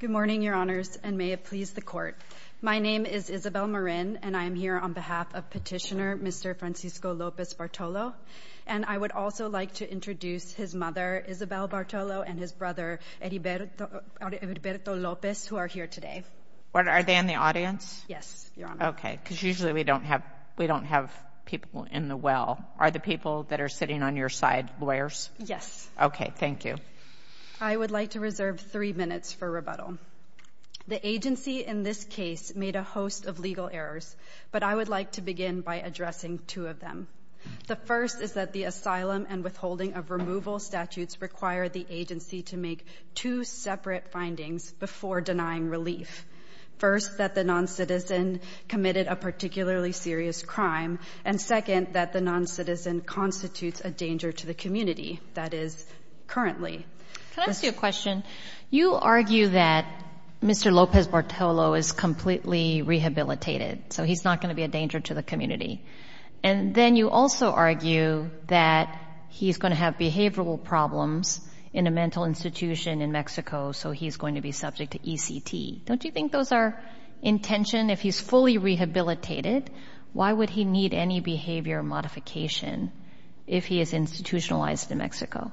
Good morning, Your Honors, and may it please the Court. My name is Isabel Marin, and I am here on behalf of Petitioner Mr. Francisco Lopez-Bartolo, and I would also like to introduce his mother, Isabel Bartolo, and his brother, Heriberto Lopez, who are here today. Are they in the audience? Yes, Your Honor. Okay, because usually we don't have people in the well. Are the people that are sitting on your side lawyers? Yes. Okay, thank you. I would like to reserve three minutes for rebuttal. The agency in this case made a host of legal errors, but I would like to begin by addressing two of them. The first is that the asylum and withholding of removal statutes require the agency to make two separate findings before denying relief. First, that the noncitizen committed a particularly serious crime, and second, that the noncitizen constitutes a danger to the community, that is, currently. Can I ask you a question? You argue that Mr. Lopez-Bartolo is completely rehabilitated, so he's not going to be a danger to the community, and then you also argue that he's going to have behavioral problems in a mental institution in Mexico, so he's going to be subject to ECT. Don't you think those are intention? If he's fully rehabilitated, why would he need any behavior modification if he is institutionalized in Mexico?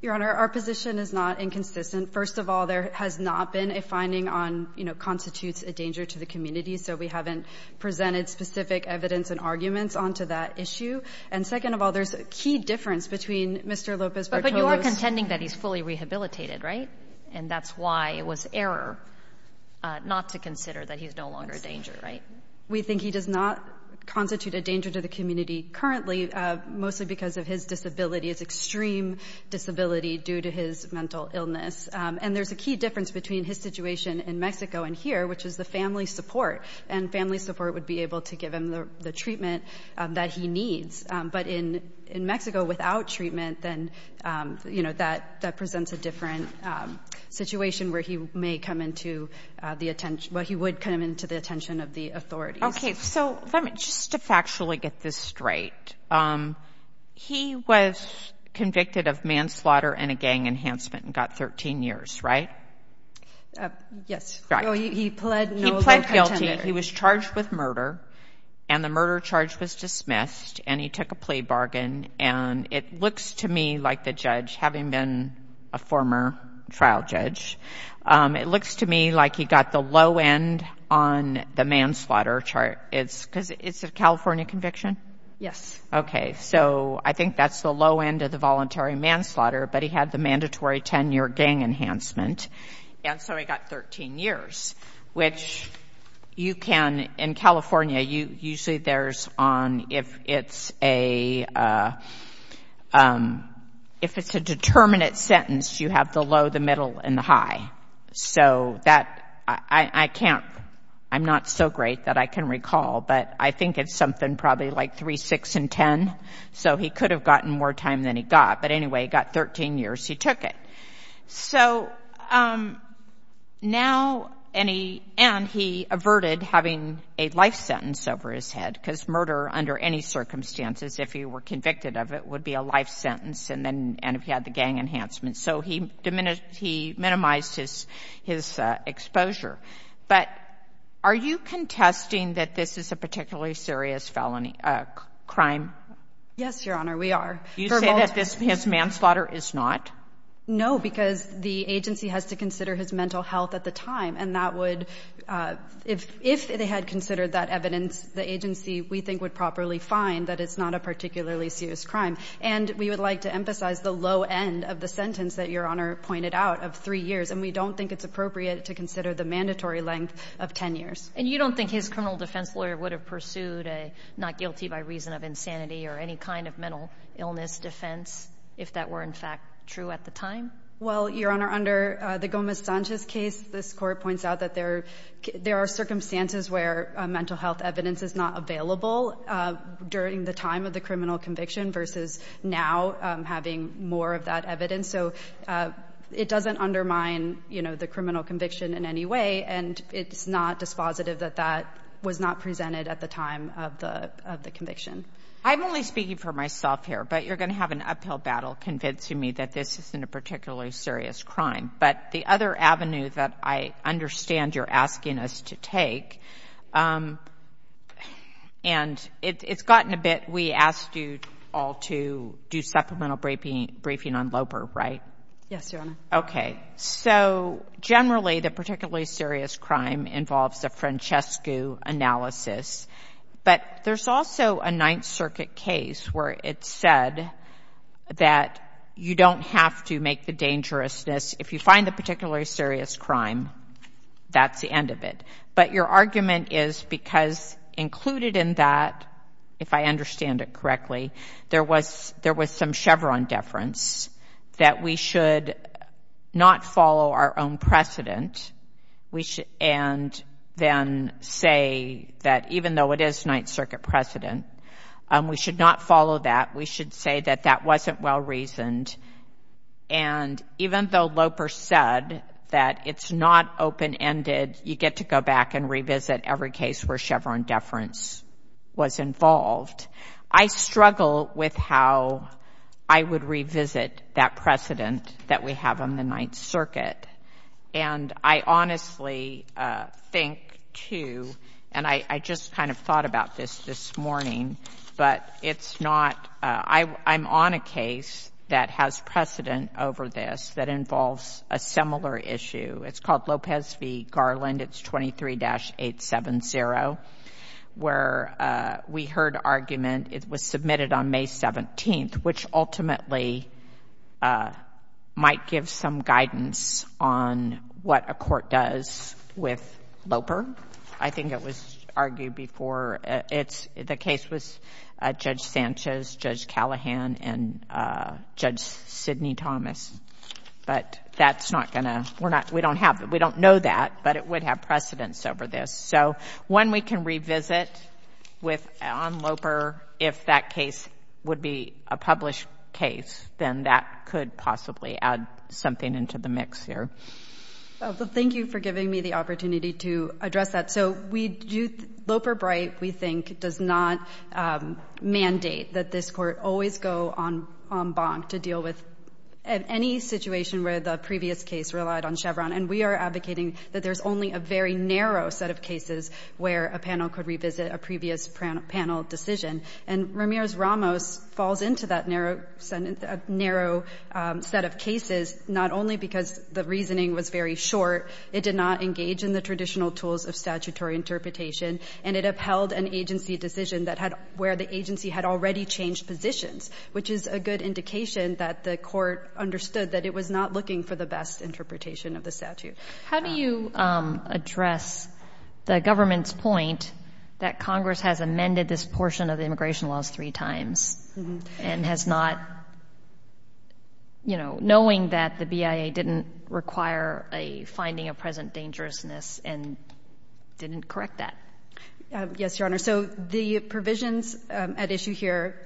Your Honor, our position is not inconsistent. First of all, there has not been a finding on, you know, constitutes a danger to the community, so we haven't presented specific evidence and arguments onto that issue. And second of all, there's a key difference between Mr. Lopez-Bartolo's— But you are contending that he's fully rehabilitated, right? And that's why it was error not to consider that he's no longer a danger, right? We think he does not constitute a danger to the community currently, mostly because of his disability, his extreme disability due to his mental illness. And there's a key difference between his situation in Mexico and here, which is the family support, and family support would be able to give him the treatment that he needs. But in Mexico, without treatment, then, you know, that presents a different situation where he may come into the attention—well, he would come into the attention of the authorities. Okay. So, let me just factually get this straight. He was convicted of manslaughter and a gang enhancement and got 13 years, right? Yes. Right. He pled no other contender. He pled guilty. He was charged with murder, and the murder charge was dismissed, and he took a plea bargain. And it looks to me like the judge, having been a former trial judge, it looks to me like he got the low end on the manslaughter charge. It's because it's a California conviction? Yes. Okay. So, I think that's the low end of the voluntary manslaughter, but he had the mandatory 10-year gang enhancement. And so, he got 13 years, which you can—in California, usually there's on—if it's a determinate sentence, you have the low, the middle, and the high. So, that—I can't—I'm not so great that I can recall, but I think it's something probably like 3, 6, and 10. So, he could have gotten more time than he got, but anyway, he got 13 years. He took it. So, now, and he averted having a life sentence over his head, because murder, under any circumstances, if he were convicted of it, would be a life sentence, and then—and if he had the gang enhancement. So, he minimized his exposure. But are you contesting that this is a particularly serious felony—crime? Yes, Your Honor. We are. You say that this—his manslaughter is not? No, because the agency has to consider his mental health at the time, and that would—if they had considered that evidence, the agency, we think, would properly find that it's not a particularly serious crime. And we would like to emphasize the low end of the sentence that Your Honor pointed out of 3 years, and we don't think it's appropriate to consider the mandatory length of 10 years. And you don't think his criminal defense lawyer would have pursued a not guilty by reason of insanity or any kind of mental illness defense if that were, in fact, true at the time? Well, Your Honor, under the Gomez-Sanchez case, this Court points out that there are circumstances where mental health evidence is not available during the time of the criminal conviction versus now having more of that evidence. So it doesn't undermine, you know, the criminal conviction in any way, and it's not dispositive that that was not presented at the time of the conviction. I'm only speaking for myself here, but you're going to have an uphill battle convincing me that this isn't a particularly serious crime. But the other avenue that I understand you're asking us to take, and it's gotten a bit—we asked you all to do supplemental briefing on Loper, right? Yes, Your Honor. Okay. So generally, the particularly serious crime involves a Francesco analysis, but there's also a Ninth Circuit case where it's said that you don't have to make the dangerousness. If you find the particularly serious crime, that's the end of it. But your argument is because included in that, if I understand it correctly, there was some Chevron deference that we should not follow our own precedent and then say that even though it is Ninth Circuit precedent, we should not follow that. We should say that that wasn't well-reasoned. And even though Loper said that it's not open-ended, you get to go back and revisit every case where Chevron deference was involved. I struggle with how I would revisit that precedent that we have on the Ninth Circuit. And I honestly think, too, and I just kind of thought about this this morning, but it's not—I'm on a case that has precedent over this that involves a similar issue. It's called Lopez v. Garland, it's 23-870, where we heard argument, it was submitted on May 17th, which ultimately might give some guidance on what a court does with Loper. I think it was argued before. The case was Judge Sanchez, Judge Callahan, and Judge Sidney Thomas, but that's not going to—we're not—we don't have—we don't know that, but it would have precedence over this. So when we can revisit with—on Loper, if that case would be a published case, then that could possibly add something into the mix here. Well, thank you for giving me the opportunity to address that. So we do—Loper-Bright, we think, does not mandate that this Court always go en banc to deal with any situation where the previous case relied on Chevron, and we are advocating that there's only a very narrow set of cases where a panel could revisit a previous panel decision. And Ramirez-Ramos falls into that narrow set of cases, not only because the reasoning was very short, it did not engage in the traditional tools of statutory interpretation, and it upheld an agency decision that had—where the agency had already changed positions, which is a good indication that the Court understood that it was not looking for the best interpretation of the statute. How do you address the government's point that Congress has amended this portion of the immigration laws three times and has not—you know, knowing that the BIA didn't require a finding of present dangerousness and didn't correct that? Yes, Your Honor. So the provisions at issue here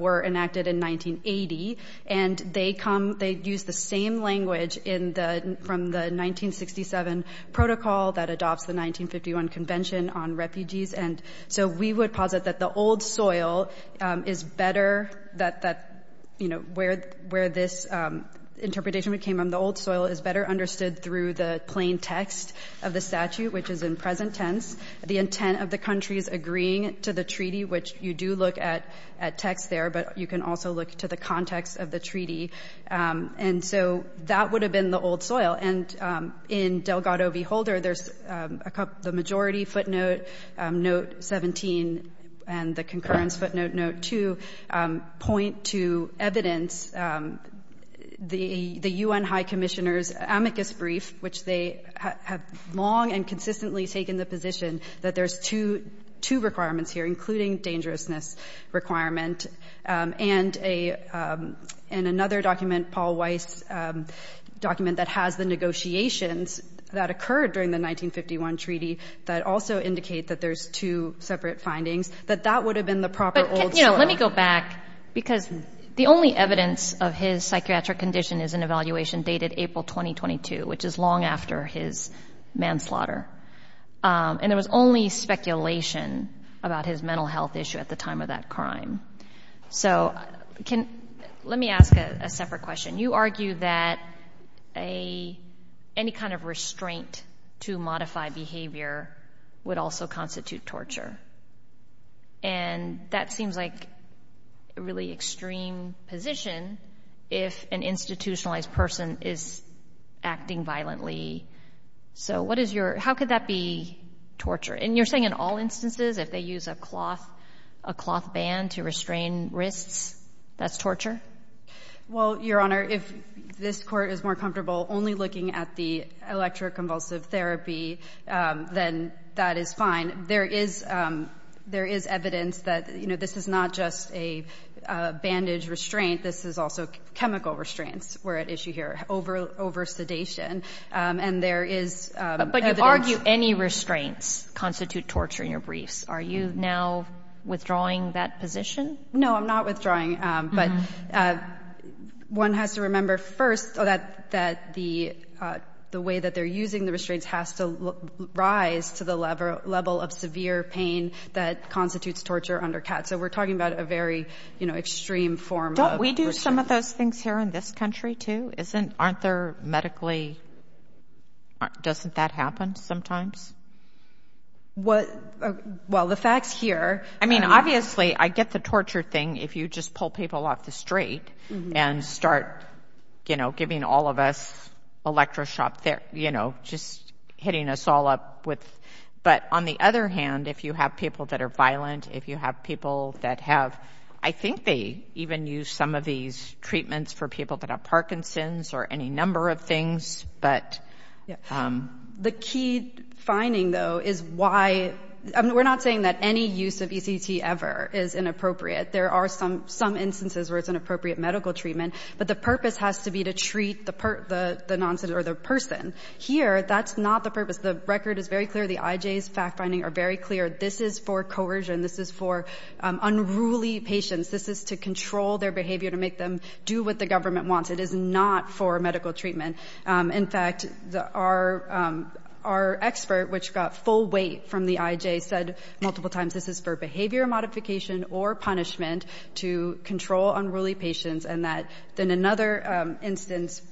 were enacted in 1980, and they come—they use the same language in the—from the 1967 protocol that adopts the 1951 Convention on Refugees. And so we would posit that the old soil is better—that, you know, where this interpretation came from, the old soil is better understood through the plain text of the statute, which is in present tense, the intent of the countries agreeing to the treaty, which you do look at text there, but you can also look to the context of the treaty. And so that would have been the old soil. And in Delgado v. Holder, there's a—the majority footnote, note 17, and the concurrence footnote, note 2, point to evidence, the U.N. High Commissioner's amicus brief, which they have long and consistently taken the position that there's two—two requirements here, including dangerousness requirement, and a—and another document, Paul Weiss' document that has the negotiations that occurred during the 1951 treaty that also indicate that there's two separate findings, that that would have been the proper old soil. But, you know, let me go back, because the only evidence of his psychiatric condition is an evaluation dated April 2022, which is long after his manslaughter. And there was only speculation about his mental health issue at the time of that crime. So can—let me ask a separate question. You argue that a—any kind of restraint to modify behavior would also constitute torture. And that seems like a really extreme position if an institutionalized person is acting violently. So what is your—how could that be torture? And you're saying in all instances, if they use a cloth—a cloth band to restrain wrists, that's torture? Well, Your Honor, if this Court is more comfortable only looking at the electroconvulsive therapy, then that is fine. There is—there is evidence that, you know, this is not just a bandage restraint. This is also chemical restraints we're at issue here, over sedation. And there is evidence— But you argue any restraints constitute torture in your briefs. Are you now withdrawing that position? No, I'm not withdrawing. But one has to remember first that the way that they're using the restraints has to rise to the level of severe pain that constitutes torture under CAT. So we're talking about a very, you know, extreme form of— Don't we do some of those things here in this country, too? Isn't—aren't there medically—doesn't that happen sometimes? Well, the facts here— I mean, obviously, I get the torture thing if you just pull people off the street and start, you know, giving all of us electroshock there, you know, just hitting us all up with— But on the other hand, if you have people that are violent, if you have people that have—I think they even use some of these treatments for people that have Parkinson's or any number of things, but— The key finding, though, is why—I mean, we're not saying that any use of ECT ever is inappropriate. There are some instances where it's an appropriate medical treatment, but the purpose has to be to treat the person. Here that's not the purpose. The record is very clear. The IJ's fact-finding are very clear. This is for coercion. This is for unruly patients. This is to control their behavior, to make them do what the government wants. It is not for medical treatment. In fact, our expert, which got full weight from the IJ, said multiple times, this is for behavior modification or punishment to control unruly patients, and that then another instance—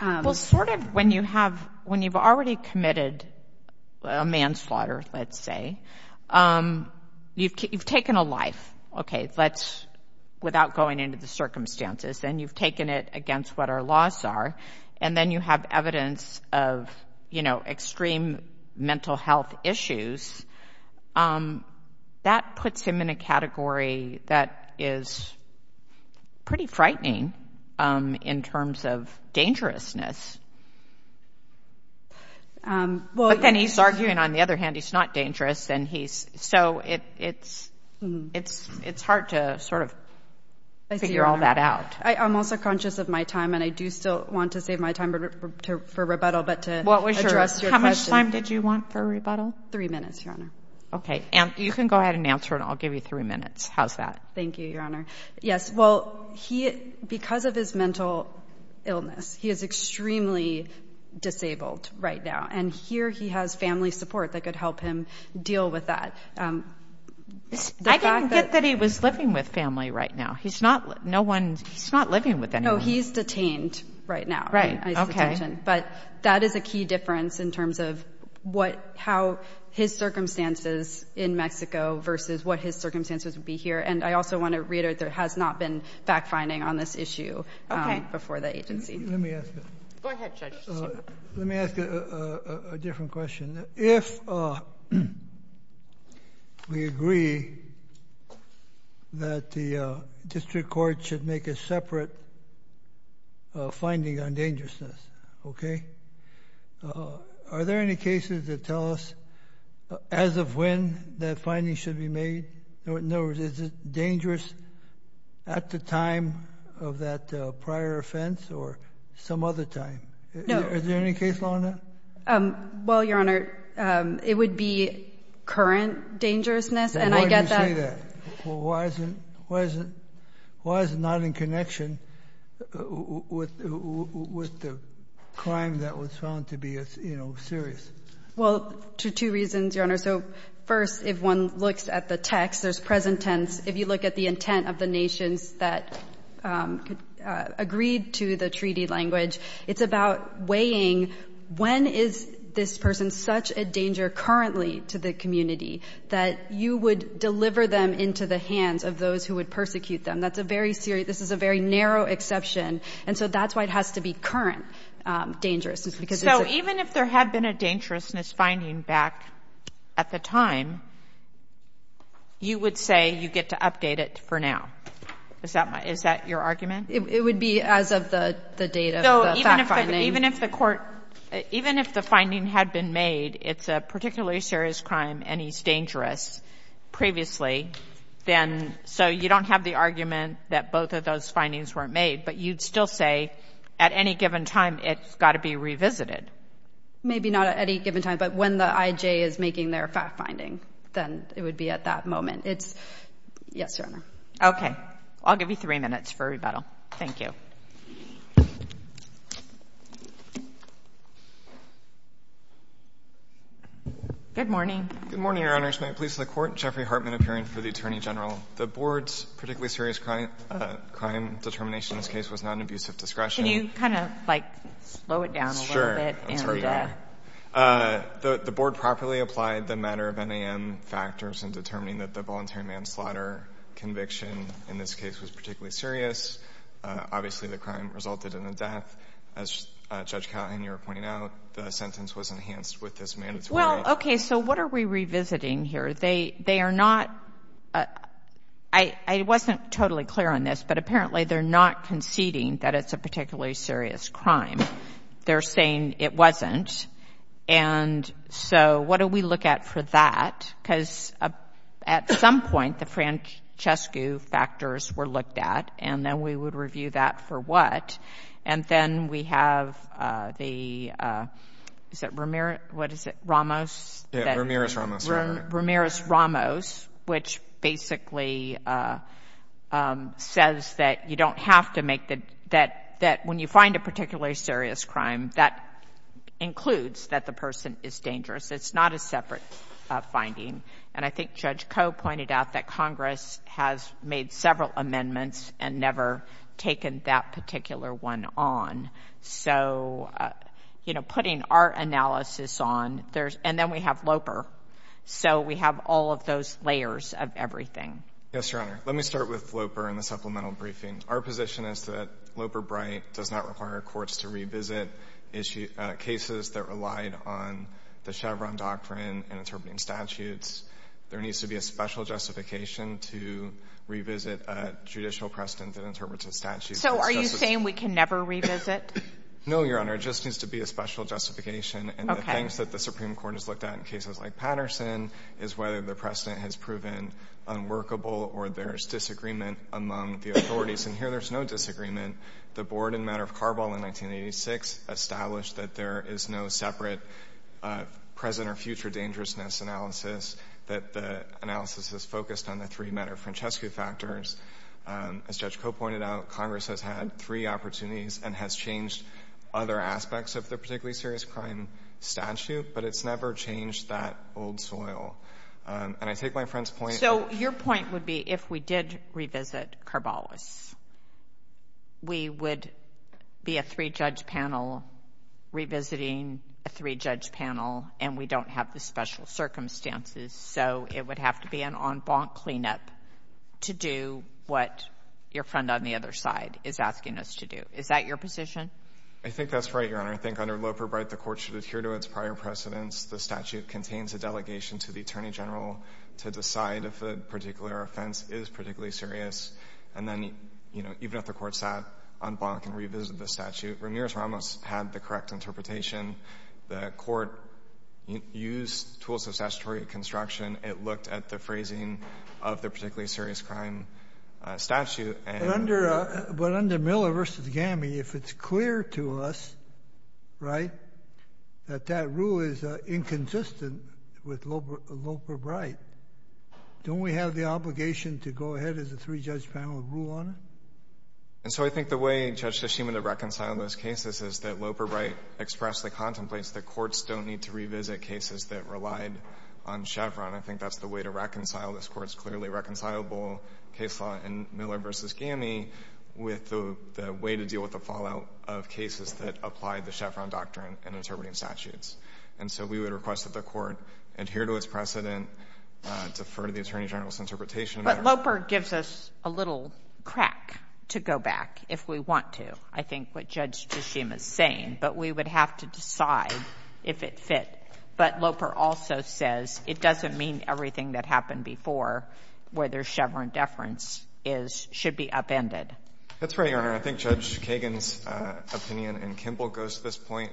Well, sort of when you have—when you've already committed a manslaughter, let's say, you've taken a life, okay, let's—without going into the circumstances, and you've taken it against what our laws are, and then you have evidence of, you know, extreme mental health issues, that puts him in a category that is pretty frightening in terms of dangerousness. But then he's arguing, on the other hand, he's not dangerous, and he's—so it's hard to sort of figure all that out. I'm also conscious of my time, and I do still want to save my time for rebuttal, but to address your question. What was your—how much time did you want for rebuttal? Three minutes, Your Honor. Okay. And you can go ahead and answer, and I'll give you three minutes. How's that? Thank you, Your Honor. Yes, well, he—because of his mental illness, he is extremely disabled right now, and here he has family support that could help him deal with that. The fact that— I didn't get that he was living with family right now. He's not—no one—he's not living with anyone. No, he's detained right now. Right. Okay. But that is a key difference in terms of what—how his circumstances in Mexico versus what his circumstances would be here, and I also want to reiterate there has not been fact-finding on this issue before the agency. Let me ask a— Go ahead, Judge. Let me ask a different question. If we agree that the district court should make a separate finding on dangerousness, okay, are there any cases that tell us as of when that finding should be made? In other words, is it dangerous at the time of that prior offense or some other time? No. Is there any case law on that? Well, Your Honor, it would be current dangerousness, and I get that— Well, why isn't—why isn't—why is it not in connection with the crime that was found to be, you know, serious? Well, to two reasons, Your Honor. So, first, if one looks at the text, there's present tense. If you look at the intent of the nations that agreed to the treaty language, it's about weighing when is this person such a danger currently to the community that you would deliver them into the hands of those who would persecute them. That's a very serious—this is a very narrow exception, and so that's why it has to be current dangerousness because it's— So, even if there had been a dangerousness finding back at the time, you would say you get to update it for now. Is that my—is that your argument? It would be as of the date of the fact-finding. Even if the court—even if the finding had been made it's a particularly serious crime and he's dangerous previously, then—so you don't have the argument that both of those findings weren't made, but you'd still say at any given time it's got to be revisited. Maybe not at any given time, but when the IJ is making their fact-finding, then it would be at that moment. It's—yes, Your Honor. Okay. I'll give you three minutes for rebuttal. Thank you. Good morning. Good morning, Your Honors. May it please the Court? Jeffrey Hartman, appearing for the Attorney General. The Board's particularly serious crime determination in this case was not an abusive discretion. Can you kind of, like, slow it down a little bit? I'm sorry. Yeah. The Board properly applied the matter of NAM factors in determining that the voluntary manslaughter conviction in this case was particularly serious. Obviously, the crime resulted in a death. As Judge Cowan, you were pointing out, the sentence was enhanced with this mandatory death. Well, okay. So what are we revisiting here? They are not—I wasn't totally clear on this, but apparently they're not conceding that it's a particularly serious crime. They're saying it wasn't. And so what do we look at for that? Because at some point, the Francescu factors were looked at, and then we would review that for what? And then we have the—is it Ramirez—what is it—Ramos? Yeah. Ramirez-Ramos. Ramirez-Ramos, which basically says that you don't have to make the—that when you find a particularly serious crime, that includes that the person is dangerous. It's not a separate finding. And I think Judge Coe pointed out that Congress has made several amendments and never taken that particular one on. So, you know, putting our analysis on, there's—and then we have Loper, so we have all of those layers of everything. Yes, Your Honor. Let me start with Loper and the supplemental briefing. Our position is that Loper-Bright does not require courts to revisit cases that relied on the Chevron doctrine and interpreting statutes. There needs to be a special justification to revisit a judicial precedent that interprets a statute. So, are you saying we can never revisit? No, Your Honor. It just needs to be a special justification. Okay. And the things that the Supreme Court has looked at in cases like Patterson is whether the precedent has proven unworkable or there's disagreement among the authorities. And here, there's no disagreement. The board in Matter of Carball in 1986 established that there is no separate present or future dangerousness analysis, that the analysis is focused on the three Matter Francesco factors. As Judge Koh pointed out, Congress has had three opportunities and has changed other aspects of the particularly serious crime statute, but it's never changed that old soil. And I take my friend's point— So, your point would be if we did revisit Carballis, we would be a three-judge panel revisiting a three-judge panel, and we don't have the special circumstances, so it would have to be an en banc cleanup to do what your friend on the other side is asking us to do. Is that your position? I think that's right, Your Honor. I think under Loper-Bright, the court should adhere to its prior precedents. The statute contains a delegation to the Attorney General to decide if a particular offense is particularly serious. And then, you know, even if the court sat en banc and revisited the statute, Ramirez-Ramos had the correct interpretation. The court used tools of statutory construction. It looked at the phrasing of the particularly serious crime statute, and— But under Miller v. Gammey, if it's clear to us, right, that that rule is inconsistent with Loper-Bright, don't we have the obligation to go ahead as a three-judge panel and rule on it? And so I think the way Judge Tashima reconciled those cases is that Loper-Bright expressed the contemplates that courts don't need to revisit cases that relied on Chevron. I think that's the way to reconcile this Court's clearly reconcilable case law in Miller v. Gammey with the way to deal with the fallout of cases that applied the Chevron doctrine in interpreting statutes. And so we would request that the court adhere to its precedent, defer to the Attorney General's interpretation of that. But Loper gives us a little crack to go back, if we want to, I think, what Judge Tashima is saying. But we would have to decide if it fit. But Loper also says it doesn't mean everything that happened before, where there's Chevron deference, is — should be upended. That's right, Your Honor. I think Judge Kagan's opinion and Kimball's goes to this point,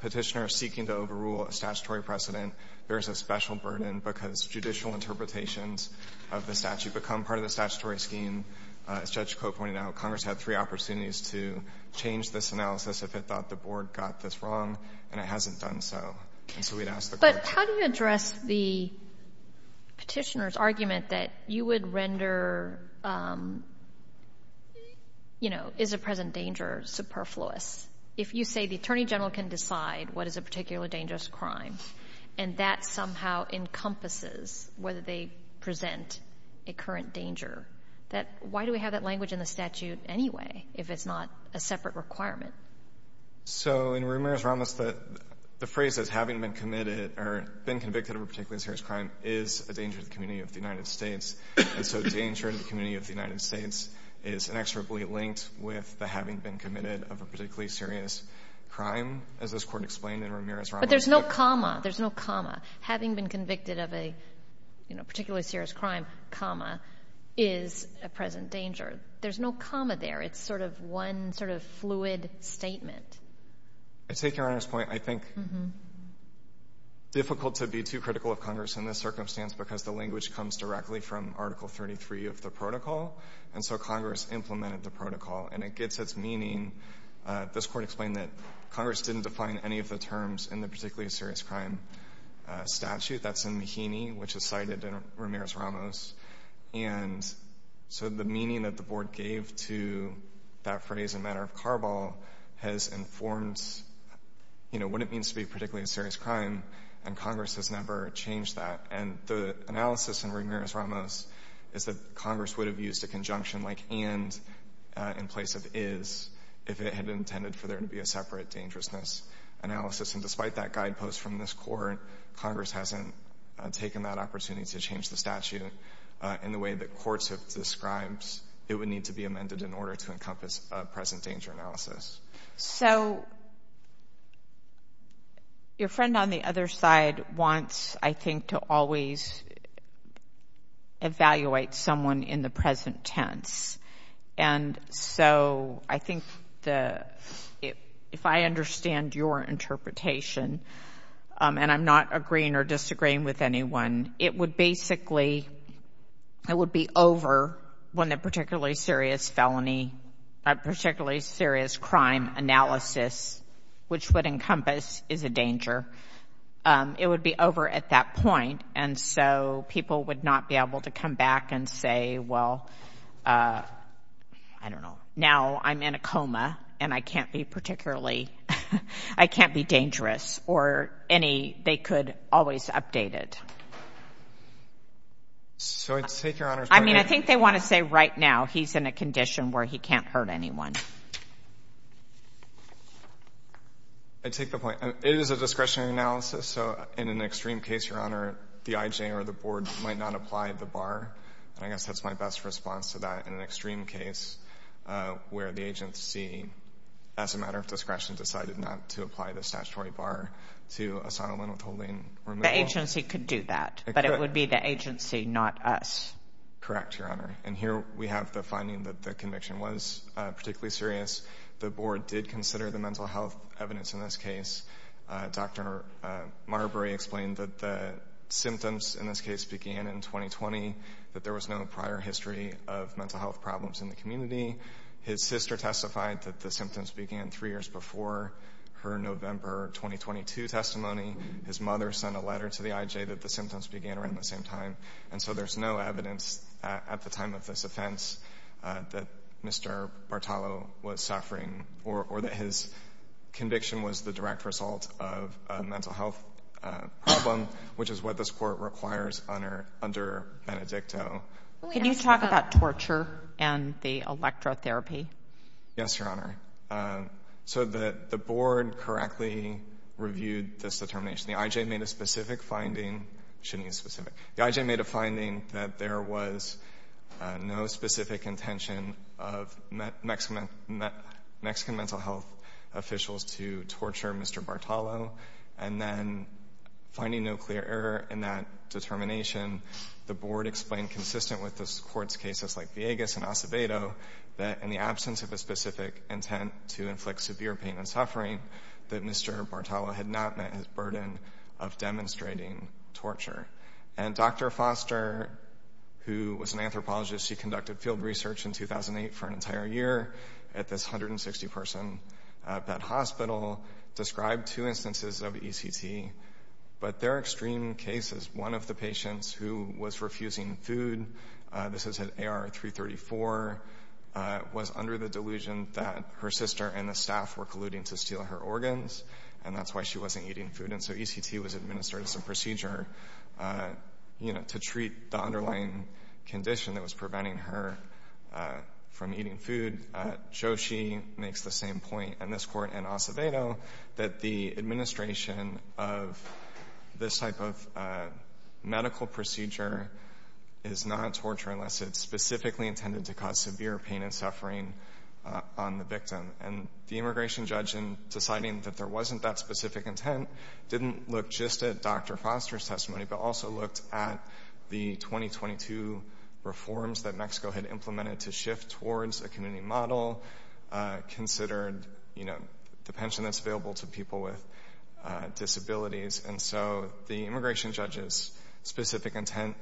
Petitioner seeking to overrule a statutory precedent bears a special burden because judicial interpretations of the statute become part of the statutory scheme. And as Judge Cote pointed out, Congress had three opportunities to change this analysis if it thought the Board got this wrong, and it hasn't done so. And so we'd ask the Court — But how do you address the Petitioner's argument that you would render, you know, is a present danger superfluous? If you say the Attorney General can decide what is a particularly dangerous crime, and that somehow encompasses whether they present a current danger, that — why do we have that language in the statute, anyway, if it's not a separate requirement? So in Ramirez-Ramos, the phrase that's having been committed or been convicted of a particularly serious crime is a danger to the community of the United States, and so danger to the community of the United States is inexorably linked with the having been committed of a particularly serious crime, as this Court explained in Ramirez-Ramos. But there's no comma. There's no comma. Having been convicted of a, you know, particularly serious crime, comma, is a present danger. There's no comma there. It's sort of one sort of fluid statement. I take Your Honor's point. I think difficult to be too critical of Congress in this circumstance because the language comes directly from Article 33 of the protocol, and so Congress implemented the protocol. And it gets its meaning — this Court explained that Congress didn't define any of the terms in the particularly serious crime statute. That's in Mahaney, which is cited in Ramirez-Ramos. And so the meaning that the Board gave to that phrase in matter of carball has informed, you know, what it means to be a particularly serious crime, and Congress has never changed that. And the analysis in Ramirez-Ramos is that Congress would have used a conjunction like and in place of is if it had intended for there to be a separate dangerousness analysis. And despite that guidepost from this Court, Congress hasn't taken that opportunity to change the statute in the way that courts have described it would need to be amended in order to encompass a present danger analysis. So your friend on the other side wants, I think, to always evaluate someone in the present tense. And so I think the — if I understand your interpretation, and I'm not agreeing or disagreeing with anyone, it would basically — it would be over when the particularly serious felony — particularly serious crime analysis, which would encompass, is a danger. It would be over at that point, and so people would not be able to come back and say, well, I don't know, now I'm in a coma, and I can't be particularly — I can't be dangerous, or any — they could always update it. So I'd take your Honor's point — I mean, I think they want to say right now he's in a condition where he can't hurt anyone. I take the point. It is a discretionary analysis, so in an extreme case, your Honor, the IJ or the board might not apply the bar. And I guess that's my best response to that, in an extreme case where the agency, as a matter of discretion, decided not to apply the statutory bar to asylum and withholding — The agency could do that, but it would be the agency, not us. Correct, your Honor. And here we have the finding that the conviction was particularly serious. The board did consider the mental health evidence in this case. Dr. Marbury explained that the symptoms in this case began in 2020, that there was no prior history of mental health problems in the community. His sister testified that the symptoms began three years before her November 2022 testimony. His mother sent a letter to the IJ that the symptoms began around the same time. And so there's no evidence at the time of this offense that Mr. Bartolo was suffering, or that his conviction was the direct result of a mental health problem, which is what this Court requires under Benedicto. Can you talk about torture and the electrotherapy? Yes, your Honor. So the board correctly reviewed this determination. The IJ made a specific finding — shouldn't use specific — the IJ made a finding that there was no specific intention of Mexican mental health officials to torture Mr. Bartolo. And then, finding no clear error in that determination, the board explained, consistent with the Court's cases like Villegas and Acevedo, that in the absence of a specific intent to inflict severe pain and suffering, that Mr. Bartolo had not met his burden of demonstrating torture. And Dr. Foster, who was an anthropologist, she conducted field research in 2008 for an entire year at this 160-person bed hospital, described two instances of ECT. But they're extreme cases. One of the patients who was refusing food — this is at AR 334 — was under the delusion that her sister and the staff were colluding to steal her organs, and that's why she wasn't eating food. And so ECT was administered as a procedure, you know, to treat the underlying condition that was preventing her from eating food. Joshi makes the same point, and this Court and Acevedo, that the administration of this type of medical procedure is not torture unless it's specifically intended to cause severe pain and suffering on the victim. And the immigration judge, in deciding that there wasn't that specific intent, didn't look just at Dr. Foster's testimony, but also looked at the 2022 reforms that Mexico had implemented to shift towards a community model, considered, you know, the pension that's available to people with disabilities. And so the immigration judge's specific intent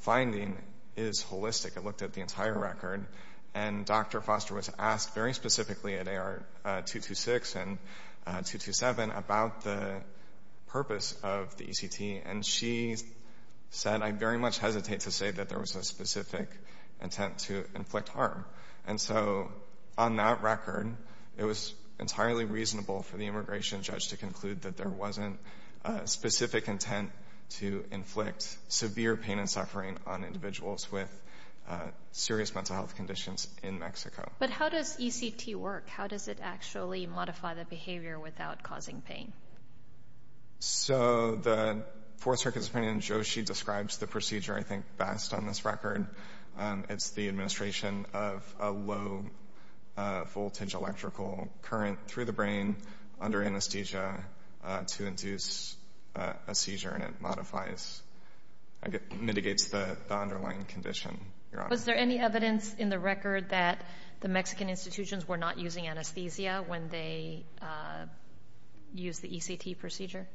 finding is holistic. It looked at the entire record, and Dr. Foster was asked very specifically at AR 226 and 227 about the purpose of the ECT, and she said, I very much hesitate to say that there was a specific intent to inflict harm. And so on that record, it was entirely reasonable for the immigration judge to conclude that there wasn't a specific intent to inflict severe pain and suffering on individuals with serious mental health conditions in Mexico. But how does ECT work? How does it actually modify the behavior without causing pain? So the Fourth Circuit's opinion, Joshi describes the procedure, I think, best on this record. It's the administration of a low-voltage electrical current through the brain under anesthesia to induce a seizure, and it modifies, mitigates the underlying condition, Your Honor. Was there any evidence in the record that the Mexican institutions were not using anesthesia when they used the ECT procedure?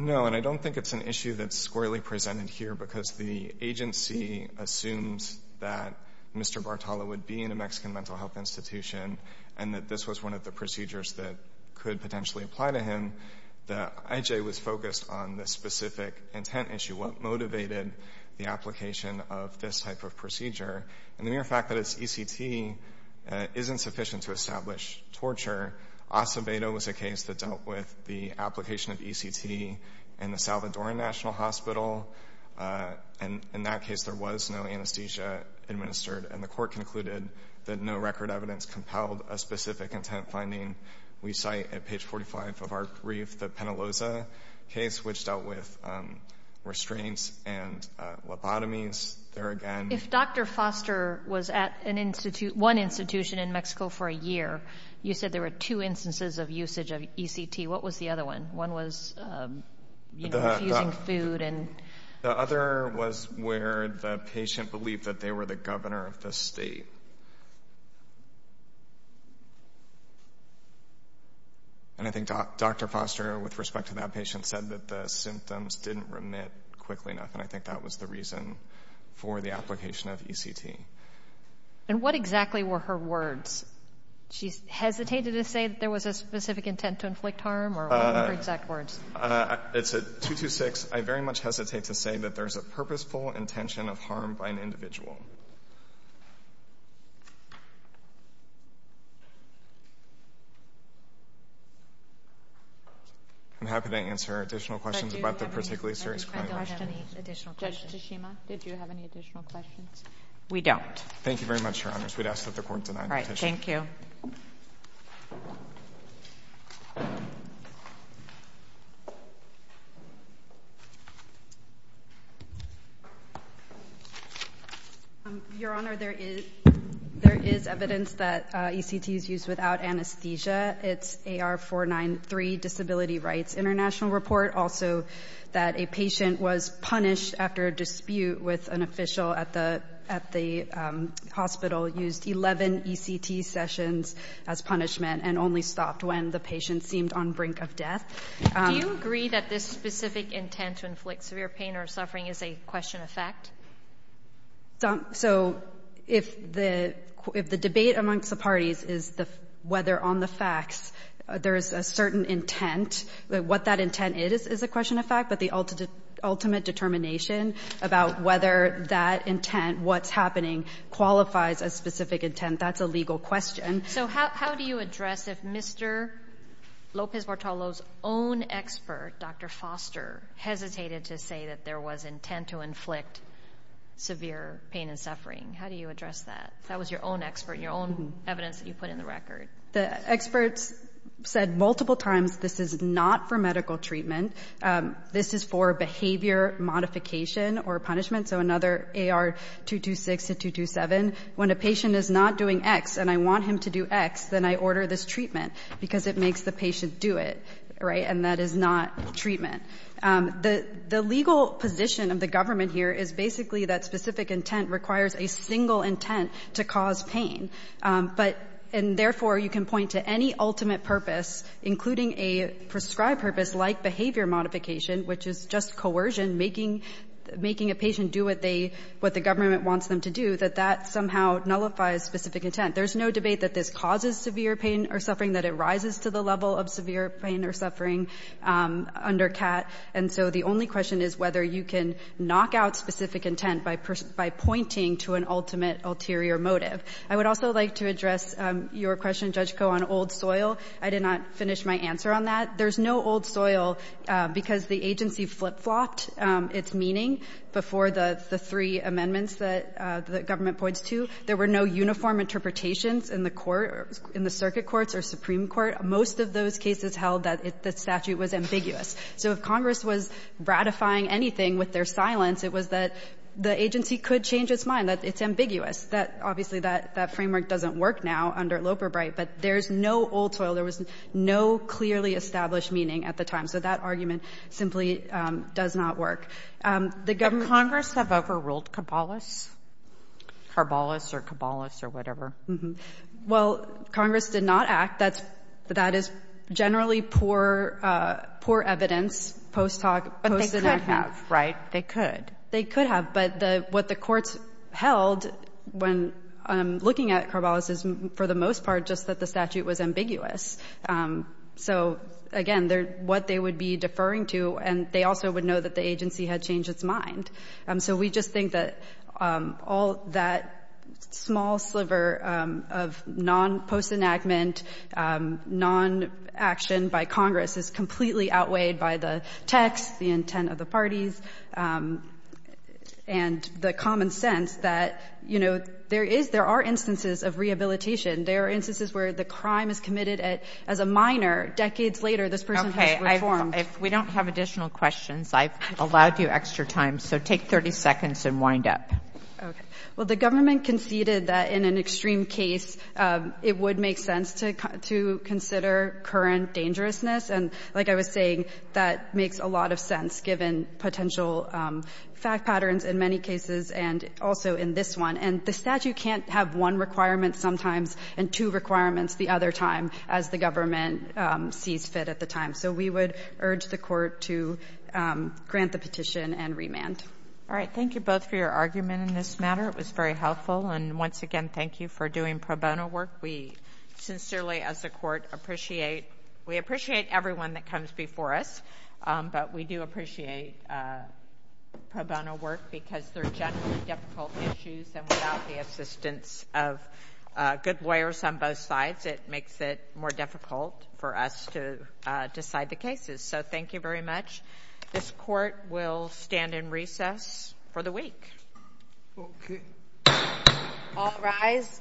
No, and I don't think it's an issue that's squarely presented here because the agency assumes that Mr. Bartala would be in a Mexican mental health institution and that this was one of the procedures that could potentially apply to him. The IJ was focused on the specific intent issue, what motivated the application of this type of procedure, and the mere fact that it's ECT isn't sufficient to establish torture. Acevedo was a case that dealt with the application of ECT in the Salvadoran National Hospital. And in that case, there was no anesthesia administered. And the court concluded that no record evidence compelled a specific intent finding. We cite, at page 45 of our brief, the Penaloza case, which dealt with restraints and lobotomies there again. If Dr. Foster was at one institution in Mexico for a year, you said there were two instances of usage of ECT. What was the other one? One was, you know, infusing food and... The other was where the patient believed that they were the governor of the state. And I think Dr. Foster, with respect to that patient, said that the symptoms didn't remit quickly enough, and I think that was the reason for the application of ECT. And what exactly were her words? She hesitated to say that there was a specific intent to inflict harm, or what were her exact words? It said, 226, I very much hesitate to say that there's a purposeful intention of harm by an individual. I'm happy to answer additional questions about the particularly serious crime. I don't have any additional questions. Judge Tashima, did you have any additional questions? We don't. Thank you very much, Your Honors. We'd ask that the court deny the petition. All right. Thank you. Your Honor, there is evidence that ECT is used without anesthesia. It's AR-493, Disability Rights International Report. Also, that a patient was punished after a dispute with an official at the hospital, used 11 ECT sessions as punishment, and only stopped when the patient seemed on brink of death. Do you agree that this specific intent to inflict severe pain or suffering is a question of fact? So if the debate amongst the parties is whether on the facts there is a certain intent, what that intent is is a question of fact, but the ultimate determination about whether that intent, what's happening, qualifies as specific intent, that's a legal question. So how do you address if Mr. Lopez-Bartolo's own expert, Dr. Foster, hesitated to say that there was intent to inflict severe pain and suffering? How do you address that? That was your own expert and your own evidence that you put in the record. The experts said multiple times, this is not for medical treatment. This is for behavior modification or punishment. So another AR-226 to 227. When a patient is not doing X and I want him to do X, then I order this treatment because it makes the patient do it, right? And that is not treatment. The legal position of the government here is basically that specific intent requires a single intent to cause pain, but and therefore you can point to any ultimate purpose, including a prescribed purpose like behavior modification, which is just coercion, making a patient do what they, what the government wants them to do, that that somehow nullifies specific intent. There's no debate that this causes severe pain or suffering, that it rises to the suffering under CAT. And so the only question is whether you can knock out specific intent by pointing to an ultimate ulterior motive. I would also like to address your question, Judge Koh, on old soil. I did not finish my answer on that. There's no old soil because the agency flip-flopped its meaning before the three amendments that the government points to. There were no uniform interpretations in the court, in the circuit courts or supreme court. Most of those cases held that the statute was ambiguous. So if Congress was ratifying anything with their silence, it was that the agency could change its mind, that it's ambiguous, that obviously that framework doesn't work now under Loper-Bright. But there's no old soil. There was no clearly established meaning at the time. So that argument simply does not work. The government- Congress have overruled Cabalis? Carbalis or Cabalis or whatever? Well, Congress did not act. That is generally poor evidence, post-enactment. But they could have, right? They could. They could have. But what the courts held when looking at Carbalis is, for the most part, just that the statute was ambiguous. So, again, what they would be deferring to, and they also would know that the agency had changed its mind. So we just think that all that small sliver of non-post-enactment, non-action by Congress is completely outweighed by the text, the intent of the parties, and the common sense that, you know, there are instances of rehabilitation. There are instances where the crime is committed as a minor. Decades later, this person has reformed. If we don't have additional questions, I've allowed you extra time. So take 30 seconds and wind up. Well, the government conceded that in an extreme case, it would make sense to consider current dangerousness. And like I was saying, that makes a lot of sense, given potential fact patterns in many cases and also in this one. And the statute can't have one requirement sometimes and two requirements the other time, as the government sees fit at the time. So we would urge the Court to grant the petition and remand. All right. Thank you both for your argument in this matter. It was very helpful. And once again, thank you for doing pro bono work. We sincerely, as a Court, appreciate — we appreciate everyone that comes before us, but we do appreciate pro bono work because they're generally difficult issues. And without the assistance of good lawyers on both sides, it makes it more difficult for us to decide the cases. So thank you very much. This Court will stand in recess for the week. Okay. All rise.